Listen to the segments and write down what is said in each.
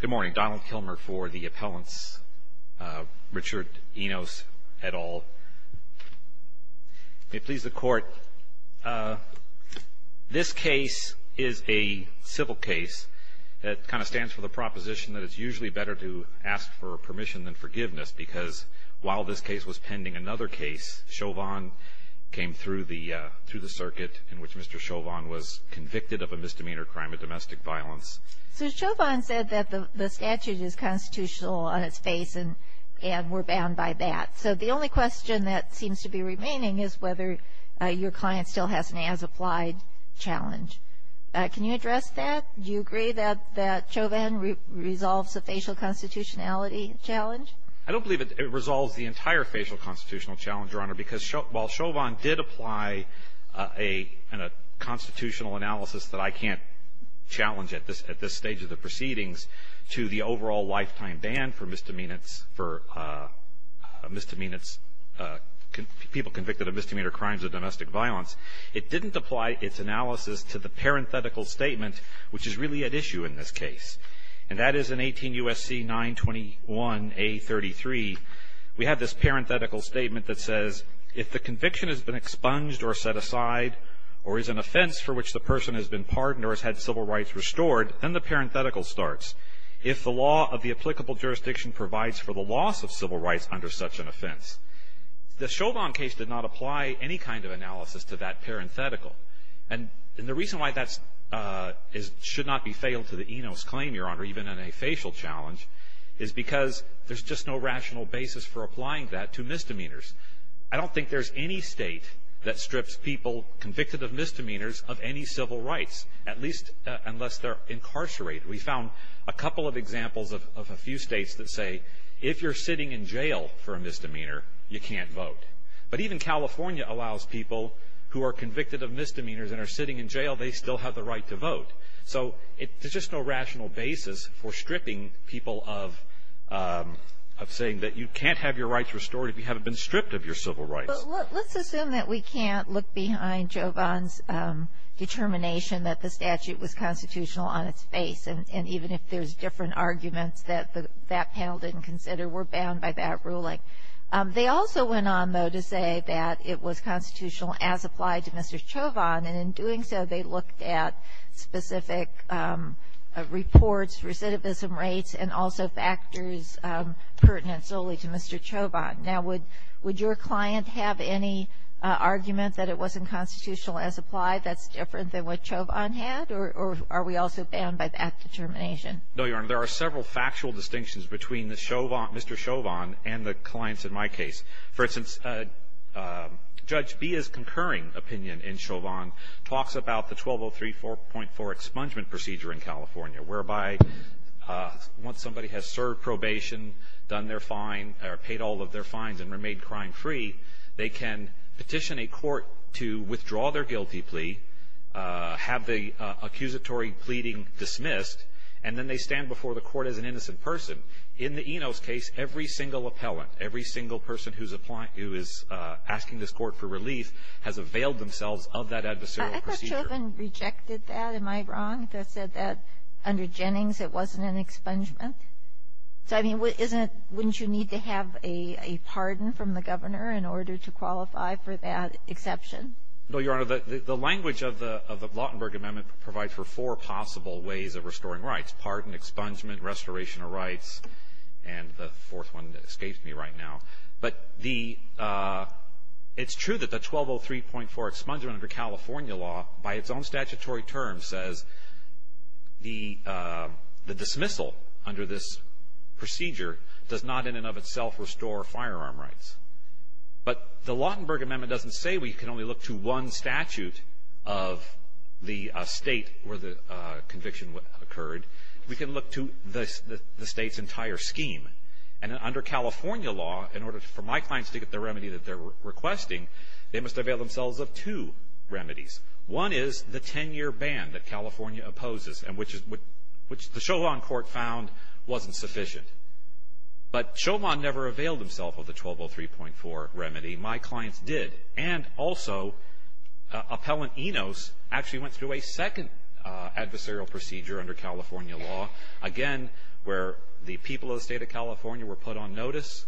Good morning. Donald Kilmer for the appellants. Richard Enos, et al. May it please the Court, this case is a civil case that kind of stands for the proposition that it's usually better to ask for permission than forgiveness because while this case was pending another case, Chauvin came through the circuit in which Mr. Chauvin was convicted of a misdemeanor crime of domestic violence. So Chauvin said that the statute is constitutional on its face and we're bound by that. So the only question that seems to be remaining is whether your client still has an as-applied challenge. Can you address that? Do you agree that Chauvin resolves the facial constitutionality challenge? I don't believe it resolves the entire facial constitutional challenge, Your Honor, because while Chauvin did apply a constitutional analysis that I can't challenge at this stage of the proceedings to the overall lifetime ban for misdemeanors, for misdemeanors, people convicted of misdemeanor crimes of domestic violence, it didn't apply its analysis to the parenthetical statement which is really at issue in this case. And that is in 18 U.S.C. 921A.33, we have this parenthetical statement that says, if the conviction has been expunged or set aside or is an offense for which the person has been pardoned or has had civil rights restored, then the parenthetical starts. If the law of the applicable jurisdiction provides for the loss of civil rights under such an offense. The Chauvin case did not apply any kind of analysis to that parenthetical. And the reason why that should not be failed to the Enos claim, Your Honor, even in a facial challenge, is because there's just no rational basis for applying that to misdemeanors. I don't think there's any state that strips people convicted of misdemeanors of any civil rights, at least unless they're incarcerated. We found a couple of examples of a few states that say, if you're sitting in jail for a misdemeanor, you can't vote. But even California allows people who are convicted of misdemeanors and are sitting in jail, they still have the right to vote. So there's just no rational basis for stripping people of saying that you can't have your rights restored if you haven't been stripped of your civil rights. But let's assume that we can't look behind Chauvin's determination that the statute was constitutional on its face. And even if there's different arguments that that panel didn't consider, we're bound by that ruling. They also went on, though, to say that it was constitutional as applied to Mr. Chauvin. And in doing so, they looked at specific reports, recidivism rates, and also factors pertinent solely to Mr. Chauvin. Now, would your client have any argument that it wasn't constitutional as applied that's different than what Chauvin had? Or are we also bound by that determination? No, Your Honor. There are several factual distinctions between the Chauvin — Mr. Chauvin and the clients in my case. For instance, Judge Bia's concurring opinion in Chauvin talks about the 1203.4 expungement procedure in California, whereby once somebody has served probation, done their fine, or paid all of their fines and remained crime-free, they can petition a court to withdraw their guilty plea, have the accusatory pleading dismissed, and then they stand before the court as an innocent person. In the Enos case, every single appellant, every single person who is asking this court for relief has availed themselves of that adversarial procedure. I thought Chauvin rejected that. Am I wrong if I said that under Jennings it wasn't an expungement? So, I mean, wouldn't you need to have a pardon from the governor in order to qualify for that exception? No, Your Honor. The language of the Lautenberg Amendment provides for four possible ways of restoring rights, pardon, expungement, restoration of rights, and the fourth one escapes me right now. But the — it's true that the 1203.4 expungement under California law, by its own statutory terms, says the dismissal under this procedure does not in and of itself restore firearm rights. But the Lautenberg Amendment doesn't say we can only look to one statute of the state where the conviction occurred. We can look to the state's entire scheme. And under California law, in order for my clients to get the remedy that they're requesting, they must avail themselves of two remedies. One is the 10-year ban that California opposes, which the Chauvin court found wasn't sufficient. But Chauvin never availed himself of the 1203.4 remedy. My clients did. And also, Appellant Enos actually went through a second adversarial procedure under California law, again, where the people of the state of California were put on notice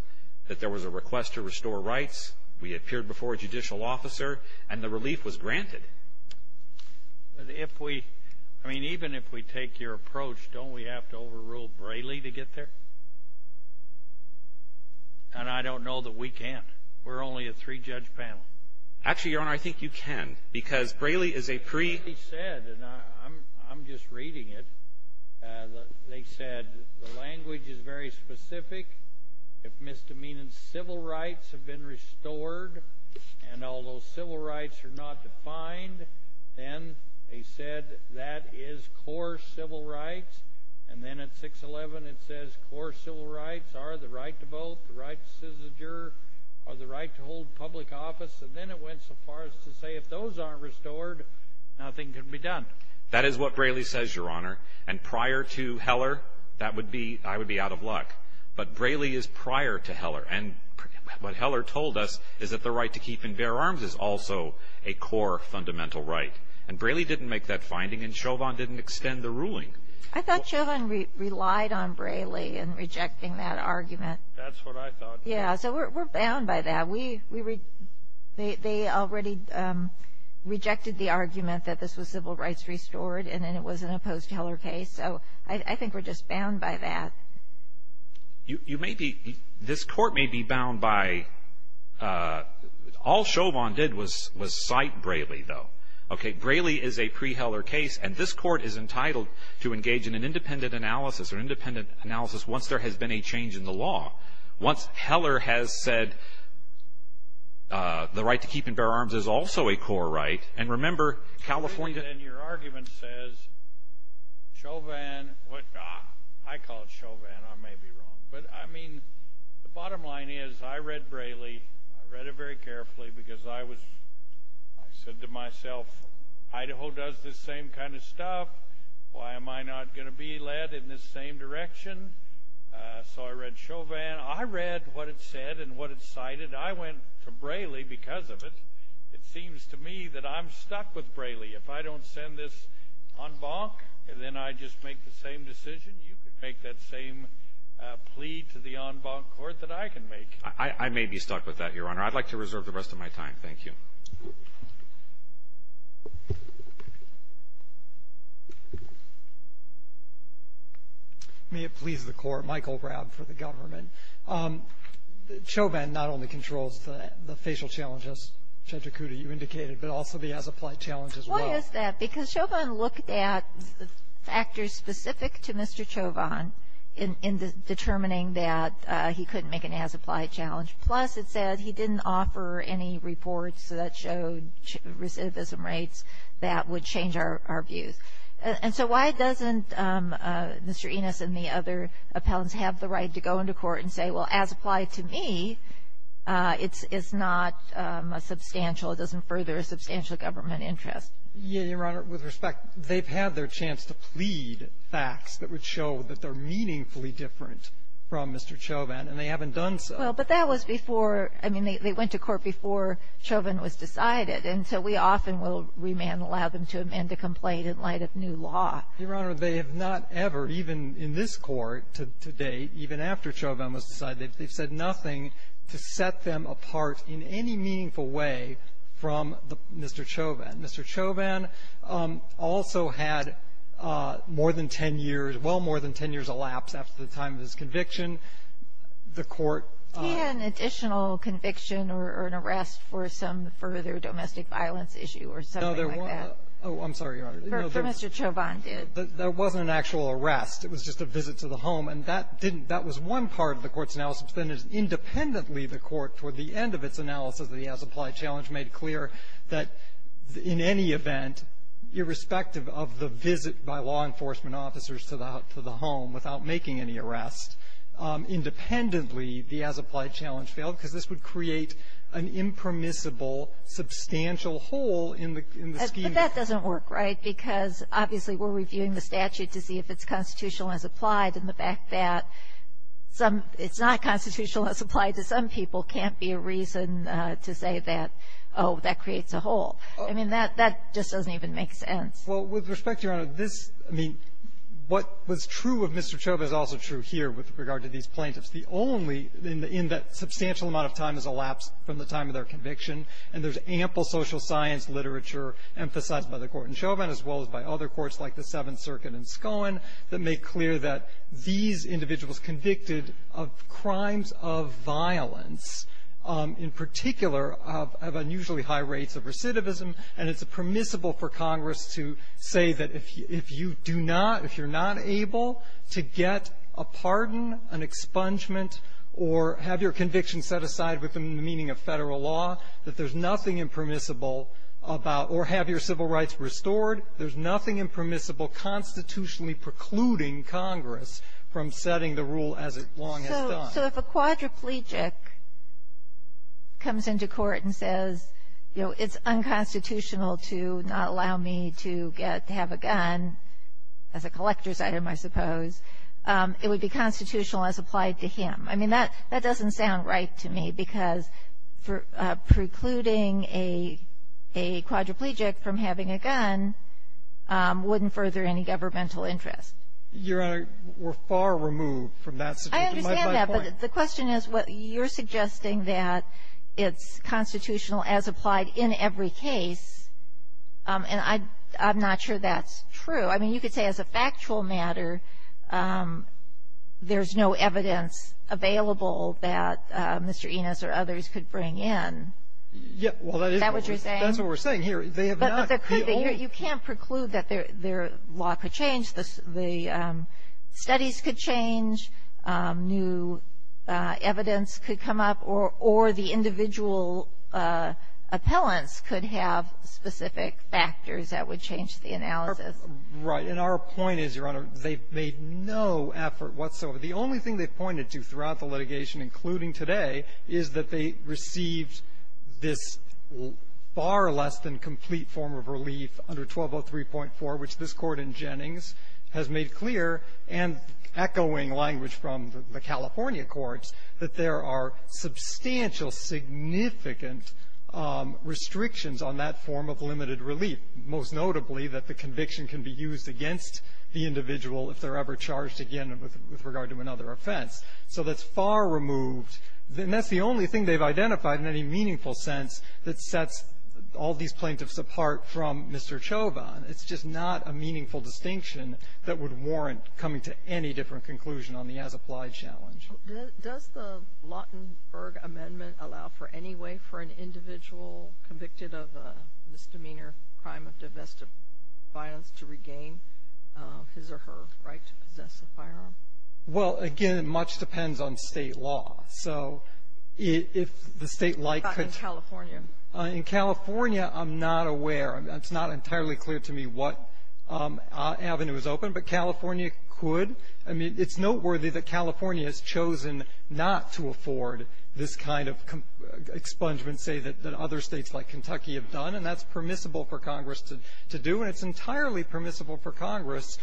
that there was a request to restore rights. We appeared before a judicial officer, and the relief was granted. But if we, I mean, even if we take your approach, don't we have to overrule Braley to get there? And I don't know that we can't. We're only a three-judge panel. Actually, Your Honor, I think you can, because Braley is a pre- He said, and I'm just reading it, they said, the language is very specific. If misdemeanant civil rights have been restored, and although civil rights are not defined, then they said that is core civil rights. And then at 611, it says core civil rights are the right to vote, the right to seize a juror, or the right to hold public office. And then it went so far as to say if those aren't restored, nothing can be done. That is what Braley says, Your Honor. And prior to Heller, that would be, I would be out of luck. But Braley is prior to Heller. And what Heller told us is that the right to keep and bear arms is also a core fundamental right. And Braley didn't make that finding, and Chauvin didn't extend the ruling. I thought Chauvin relied on Braley in rejecting that argument. That's what I thought. Yeah, so we're bound by that. They already rejected the argument that this was civil rights restored, and then it was an opposed to Heller case. So I think we're just bound by that. You may be, this court may be bound by, all Chauvin did was cite Braley, though. Okay, Braley is a pre-Heller case, and this court is entitled to engage in an independent analysis or independent analysis once there has been a change in the law. Once Heller has said the right to keep and bear arms is also a core right. And remember California Your argument says Chauvin, I call it Chauvin, I may be wrong. But, I mean, the bottom line is I read Braley. I read it very carefully because I was, I said to myself, Idaho does this same kind of stuff. Why am I not going to be led in this same direction? So I read Chauvin. I read what it said and what it cited. I went to Braley because of it. It seems to me that I'm stuck with Braley. If I don't send this en banc and then I just make the same decision, you can make that same plea to the en banc court that I can make. I may be stuck with that, Your Honor. I'd like to reserve the rest of my time. Thank you. May it please the Court. Michael Rabb for the government. Chauvin not only controls the facial challenges, Judge Okuda, you indicated, but also the as-applied challenges as well. Why is that? Because Chauvin looked at factors specific to Mr. Chauvin in determining that he couldn't make an as-applied challenge. Plus it said he didn't offer any reports that showed recidivism rates that would change our views. And so why doesn't Mr. Enos and the other appellants have the right to go into court and say, well, as-applied to me, it's not a substantial, it doesn't further a substantial government interest? Your Honor, with respect, they've had their chance to plead facts that would show that they're meaningfully different from Mr. Chauvin, and they haven't done so. Well, but that was before, I mean, they went to court before Chauvin was decided. And so we often will remand, allow them to amend a complaint in light of new law. Your Honor, they have not ever, even in this Court to date, even after Chauvin was decided, they've said nothing to set them apart in any meaningful way from Mr. Chauvin. Mr. Chauvin also had more than ten years, well more than ten years elapsed after the time of his conviction. The Court ---- He had an additional conviction or an arrest for some further domestic violence issue or something like that. No, there wasn't. Oh, I'm sorry, Your Honor. For Mr. Chauvin did. There wasn't an actual arrest. It was just a visit to the home. And that didn't ---- that was one part of the Court's analysis. Then, independently, the Court, toward the end of its analysis of the as-applied challenge, made clear that in any event, irrespective of the visit by law enforcement officers to the home without making any arrest, independently, the as-applied challenge failed because this would create an impermissible substantial hole in the scheme. But that doesn't work, right? Because, obviously, we're reviewing the statute to see if it's constitutional as applied, and the fact that some ---- it's not constitutional as applied to some people can't be a reason to say that, oh, that creates a hole. I mean, that just doesn't even make sense. Well, with respect, Your Honor, this ---- I mean, what was true of Mr. Chauvin is also true here with regard to these plaintiffs. The only ---- in that substantial amount of time has elapsed from the time of their conviction, and there's ample social science literature emphasized by the Court and Chauvin, as well as by other courts like the Seventh Circuit and Scone, that make clear that these individuals convicted of crimes of violence, in particular of unusually high rates of recidivism, and it's permissible for Congress to say that if you do not, if you're not able to get a pardon, an expungement, or have your conviction set aside within the meaning of Federal law, that there's nothing impermissible about or have your civil rights restored, there's nothing impermissible constitutionally precluding Congress from setting the rule as it long has done. So if a quadriplegic comes into court and says, you know, it's unconstitutional to not allow me to get, to have a gun as a collector's item, I suppose, it would be constitutional as applied to him. I mean, that doesn't sound right to me, because precluding a quadriplegic from having a gun wouldn't further any governmental interest. Your Honor, we're far removed from that situation. I understand that, but the question is, you're suggesting that it's constitutional as applied in every case, and I'm not sure that's true. I mean, you could say as a factual matter, there's no evidence available that Mr. Enos or others could bring in. Yeah. Well, that is what we're saying. Is that what you're saying? That's what we're saying here. They have not. But you can't preclude that their law could change, the studies could change, new evidence could come up, or the individual appellants could have specific factors that would change the analysis. Right. And our point is, Your Honor, they've made no effort whatsoever. The only thing they've pointed to throughout the litigation, including today, is that they received this far less than complete form of relief under 1203.4, which this Court in Jennings has made clear, and echoing language from the California courts, that there are substantial significant restrictions on that form of limited relief, most notably that the conviction can be used against the individual if they're ever charged again with regard to another offense. So that's far removed. And that's the only thing they've identified in any meaningful sense that sets all these plaintiffs apart from Mr. Chauvin. It's just not a meaningful distinction that would warrant coming to any different conclusion on the as-applied challenge. Does the Lautenberg Amendment allow for any way for an individual convicted of a misdemeanor crime of divestive violence to regain his or her right to possess a firearm? Well, again, much depends on state law. So if the state like could – In California. In California, I'm not aware. It's not entirely clear to me what avenue is open, but California could. I mean, it's noteworthy that California has chosen not to afford this kind of expungement, say, that other states like Kentucky have done, and that's permissible for Congress to do, and it's entirely permissible for Congress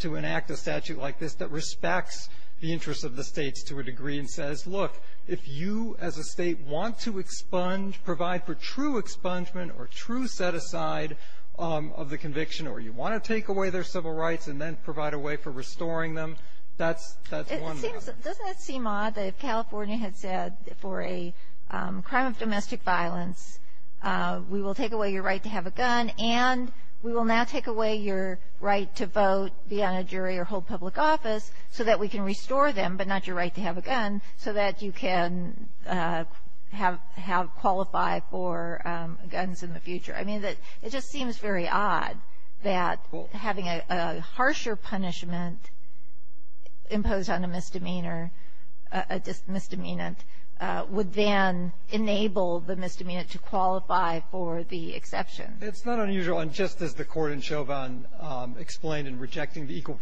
to enact a statute like this that respects the interests of the states to a degree and says, look, if you as a state want to expunge – provide for true expungement or true set-aside of the conviction or you want to take away their civil rights and then provide a way for restoring them, that's one way. It seems – doesn't it seem odd that if California had said for a crime of domestic violence, we will take away your right to have a gun and we will now take away your right to vote, be on a jury, or hold public office so that we can restore them but not your right to have a gun so that you can have – qualify for guns in the future? I mean, it just seems very odd that having a harsher punishment imposed on a misdemeanor – a misdemeanant would then enable the misdemeanant to qualify for the exception. It's not unusual, and just as the Court in Chauvin explained in rejecting the equal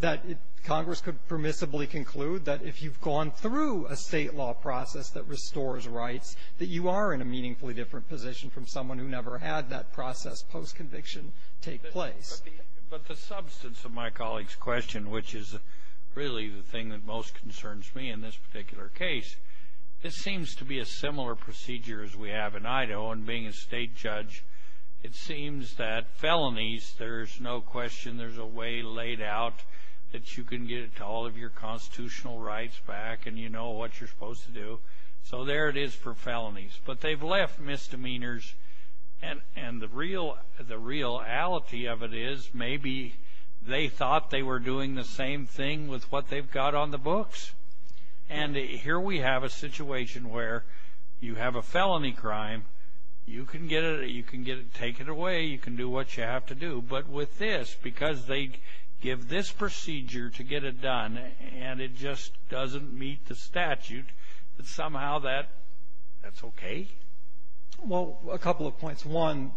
that Congress could permissibly conclude that if you've gone through a state law process that restores rights, that you are in a meaningfully different position from someone who never had that process post-conviction take place. But the substance of my colleague's question, which is really the thing that most concerns me in this particular case, this seems to be a similar procedure as we have in Idaho, and being a state judge, it seems that felonies, there's no question there's a way laid out that you can get all of your constitutional rights back and you know what you're supposed to do. So there it is for felonies. But they've left misdemeanors, and the reality of it is maybe they thought they were doing the same thing with what they've got on the books. And here we have a situation where you have a felony crime, you can take it away, you can do what you have to do. But with this, because they give this procedure to get it done, and it just doesn't meet the statute, that somehow that's okay? Well, a couple of points. One,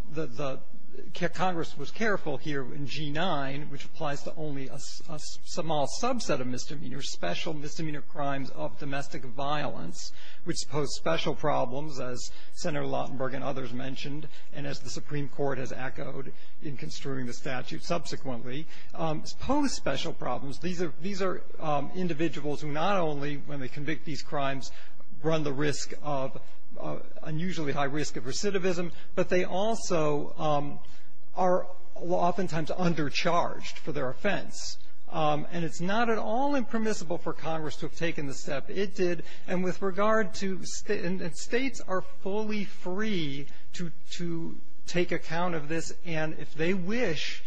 Congress was careful here in G-9, which applies to only a small subset of misdemeanors, special misdemeanor crimes of domestic violence, which pose special problems, as Senator Lautenberg and others mentioned, and as the Supreme Court has echoed in construing the statute subsequently, pose special problems. These are individuals who not only, when they convict these crimes, run the risk of unusually high risk of recidivism, but they also are oftentimes undercharged for their offense. And it's not at all impermissible for Congress to have taken the step it did. And with regard to, and states are fully free to take account of this, and if they wish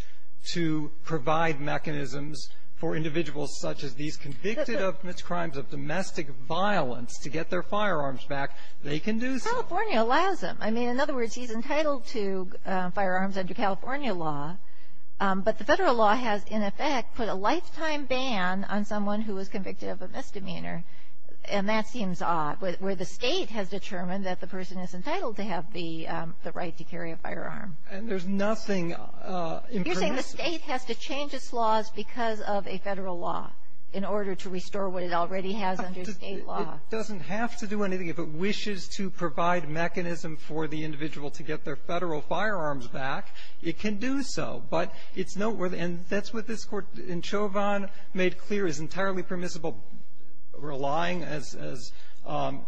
to provide mechanisms for individuals such as these convicted of crimes of domestic violence to get their firearms back, they can do so. California allows them. I mean, in other words, he's entitled to firearms under California law. But the federal law has, in effect, put a lifetime ban on someone who was convicted of a misdemeanor. And that seems odd, where the state has determined that the person is entitled to have the right to carry a firearm. And there's nothing impermissible. You're saying the state has to change its laws because of a federal law in order to restore what it already has under state law. It doesn't have to do anything. If it wishes to provide mechanism for the individual to get their federal firearms back, it can do so. But it's noteworthy. And that's what this Court in Chauvin made clear is entirely permissible, relying, as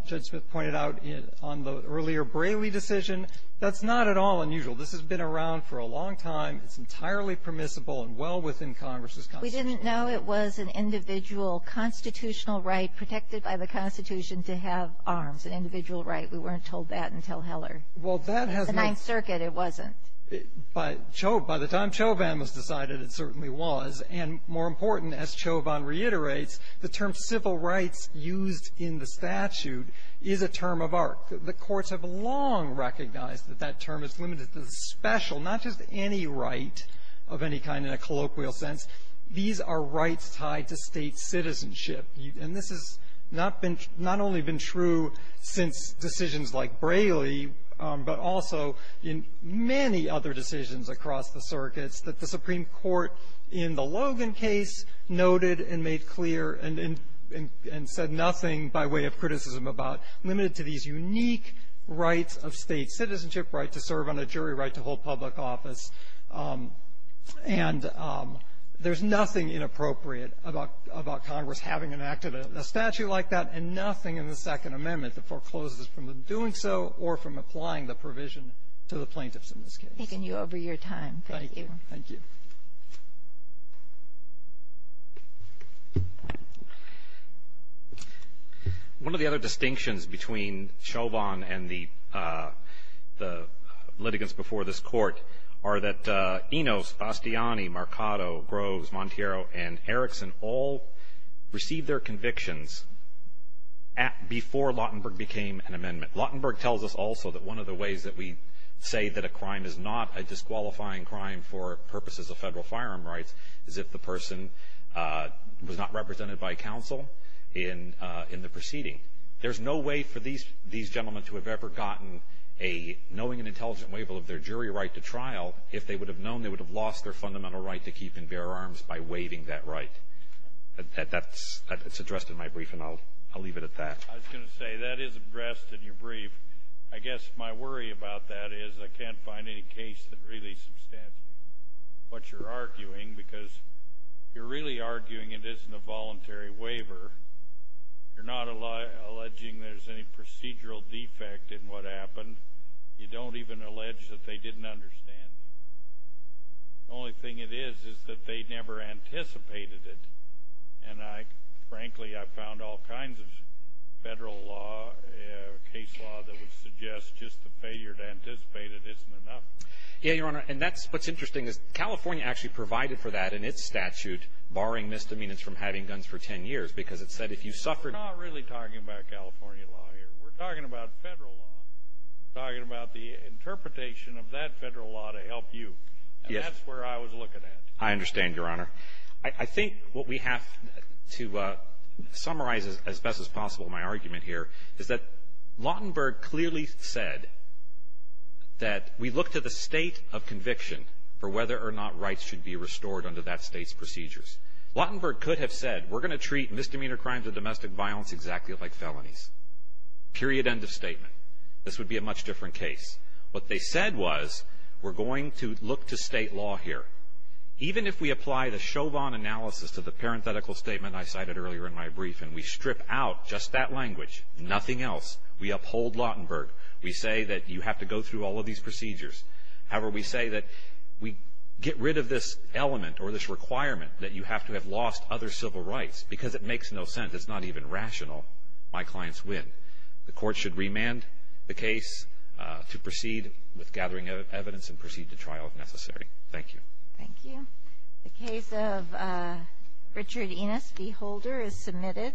Judge Smith pointed out, on the earlier Braley decision. That's not at all unusual. This has been around for a long time. It's entirely permissible and well within Congress's constitution. We didn't know it was an individual constitutional right protected by the Constitution to have arms, an individual right. We weren't told that until Heller. Well, that has been ---- The Ninth Circuit, it wasn't. By Chauvin, by the time Chauvin was decided, it certainly was. And more important, as Chauvin reiterates, the term civil rights used in the statute is a term of art. The courts have long recognized that that term is limited to the special, not just any right of any kind in a colloquial sense. These are rights tied to state citizenship. And this has not been ---- not only been true since decisions like Braley, but also in many other decisions across the circuits that the Supreme Court in the Logan case noted and made clear and said nothing by way of criticism about, limited to these unique rights of state citizenship, right to serve on a jury, right to hold public office. And there's nothing inappropriate about Congress having enacted a statute like that amendment that forecloses from doing so or from applying the provision to the plaintiffs in this case. Taking you over your time. Thank you. Thank you. One of the other distinctions between Chauvin and the litigants before this Court are that Enos, Bastiani, Marcato, Groves, Monteiro, and Erickson all received their convictions before Lautenberg became an amendment. Lautenberg tells us also that one of the ways that we say that a crime is not a disqualifying crime for purposes of federal firearm rights is if the person was not represented by counsel in the proceeding. There's no way for these gentlemen to have ever gotten a knowing and intelligent waiver of their jury right to trial if they would have known they would have lost their fundamental right to keep and bear arms by waiving that right. That's addressed in my brief and I'll leave it at that. I was going to say that is addressed in your brief. I guess my worry about that is I can't find any case that really substantiates what you're arguing because you're really arguing it isn't a voluntary waiver. You're not alleging there's any procedural defect in what happened. You don't even allege that they didn't understand it. The only thing it is is that they never anticipated it. And, frankly, I've found all kinds of federal law, case law, that would suggest just the failure to anticipate it isn't enough. Yeah, Your Honor, and that's what's interesting is California actually provided for that in its statute, barring misdemeanors from having guns for ten years, because it said if you suffered... We're not really talking about California law here. We're talking about federal law. We're talking about the interpretation of that federal law to help you, and that's where I was looking at. I understand, Your Honor. I think what we have to summarize as best as possible in my argument here is that Lautenberg clearly said that we look to the state of conviction for whether or not rights should be restored under that state's procedures. Lautenberg could have said we're going to treat misdemeanor crimes under domestic violence exactly like felonies, period, end of statement. This would be a much different case. What they said was we're going to look to state law here. Even if we apply the Chauvin analysis to the parenthetical statement I cited earlier in my brief and we strip out just that language, nothing else, we uphold Lautenberg. We say that you have to go through all of these procedures. However, we say that we get rid of this element or this requirement that you have to have lost other civil rights because it makes no sense. It's not even rational. My clients win. The court should remand the case to proceed with gathering evidence and proceed to trial if necessary. Thank you. Thank you. The case of Richard Enos v. Holder is submitted.